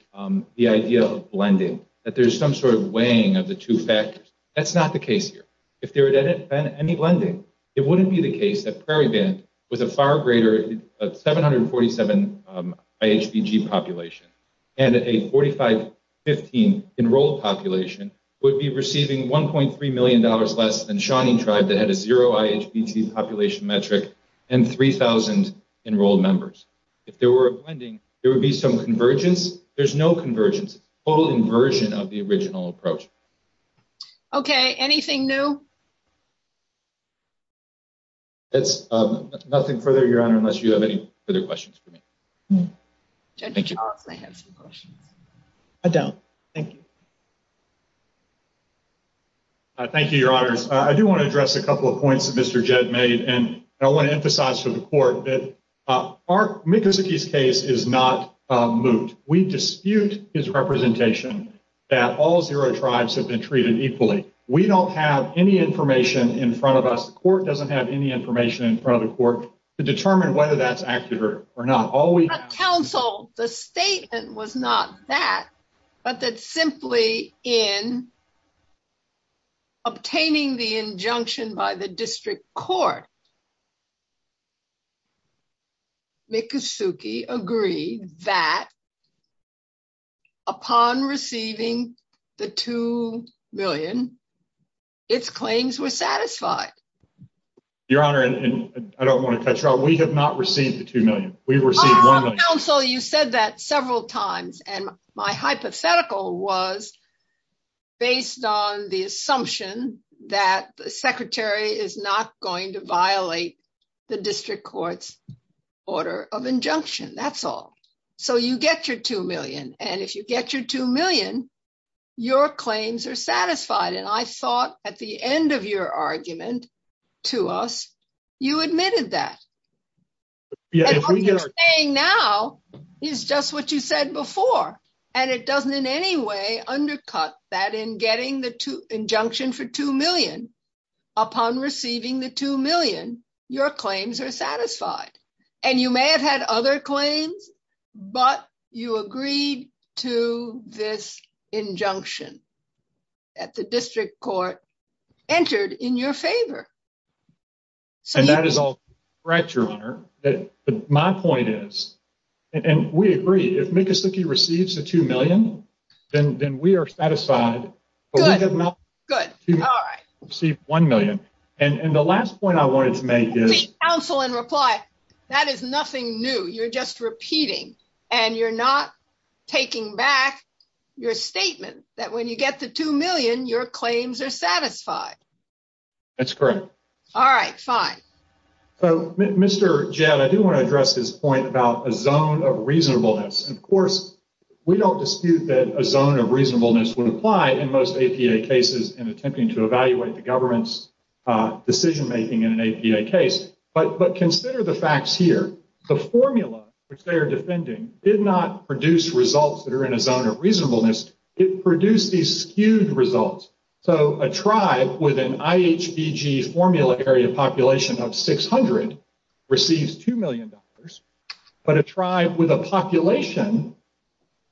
the idea of blending, that there's some sort of weighing of the two factors. That's not the case here. If there had been any blending, it wouldn't be the case that Prairie Band with a far greater 747 IHBT population and a 4515 enrolled population would be receiving $1.3 million less than Shawnee Tribe that had a zero IHBT population metric and 3,000 enrolled members. If there were a blending, there would be some convergence. There's no convergence. Total inversion of the original approach. Okay. Anything new? That's nothing further, Your Honor, unless you have any further questions for me. Judge Charles may have some questions. I don't. Thank you. Thank you, Your Honors. I do want to address a couple of points that Mr. Jedd made, and I want to emphasize to the court that our Mikusiki's case is not moot. We dispute his representation that all zero tribes have been treated equally. We don't have any information in front of us. The court doesn't have any information in front of the court to determine whether that's accurate or not. The statement was not that, but that simply in obtaining the injunction by the district court, Mikusiki agreed that upon receiving the $2 million, its claims were satisfied. Your Honor, and I don't want to cut you off, we have not received the $2 million. Counsel, you said that several times. And my hypothetical was based on the assumption that the secretary is not going to violate the district court's order of injunction. That's all. So you get your $2 million. And if you get your $2 million, your claims are satisfied. And I thought at the end of your argument to us, you admitted that. What you're saying now is just what you said before. And it doesn't in any way undercut that in getting the injunction for $2 million, upon receiving the $2 million, your claims are satisfied. And you may have had other claims, but you agreed to this injunction that the district court entered in your favor. And that is all correct, Your Honor. My point is, and we agree, if Mikusiki receives the $2 million, then we are satisfied. But we have not received $1 million. And the last point I wanted to make is... Counsel, in reply, that is nothing new. You're just repeating. And you're not taking back your statement that when you get the $2 million, your claims are satisfied. That's correct. All right, fine. So, Mr. Jett, I do want to address this point about a zone of reasonableness. Of course, we don't dispute that a zone of reasonableness would apply in most APA cases in attempting to evaluate the government's decision-making in an APA case. But consider the facts here. The formula, which they are defending, did not produce results that are in a zone of reasonableness. It produced these skewed results. So a tribe with an IHBG formulary of population of 600 receives $2 million, but a tribe with a population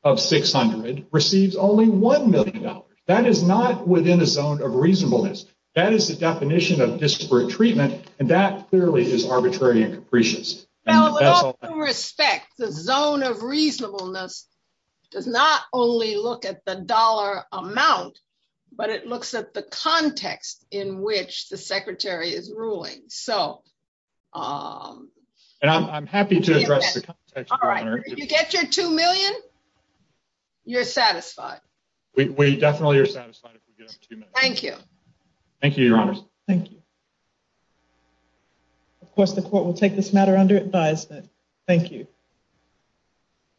of 600 receives only $1 million. That is not within a zone of reasonableness. That is the definition of disparate treatment, and that clearly is arbitrary and capricious. Well, with all due respect, the zone of reasonableness does not only look at the dollar amount, but it looks at the context in which the Secretary is ruling. And I'm happy to address the context, Your Honor. All right. If you get your $2 million, you're satisfied. We definitely are satisfied if we get our $2 million. Thank you. Thank you, Your Honor. Thank you. Of course, the court will take this matter under advisement. Thank you.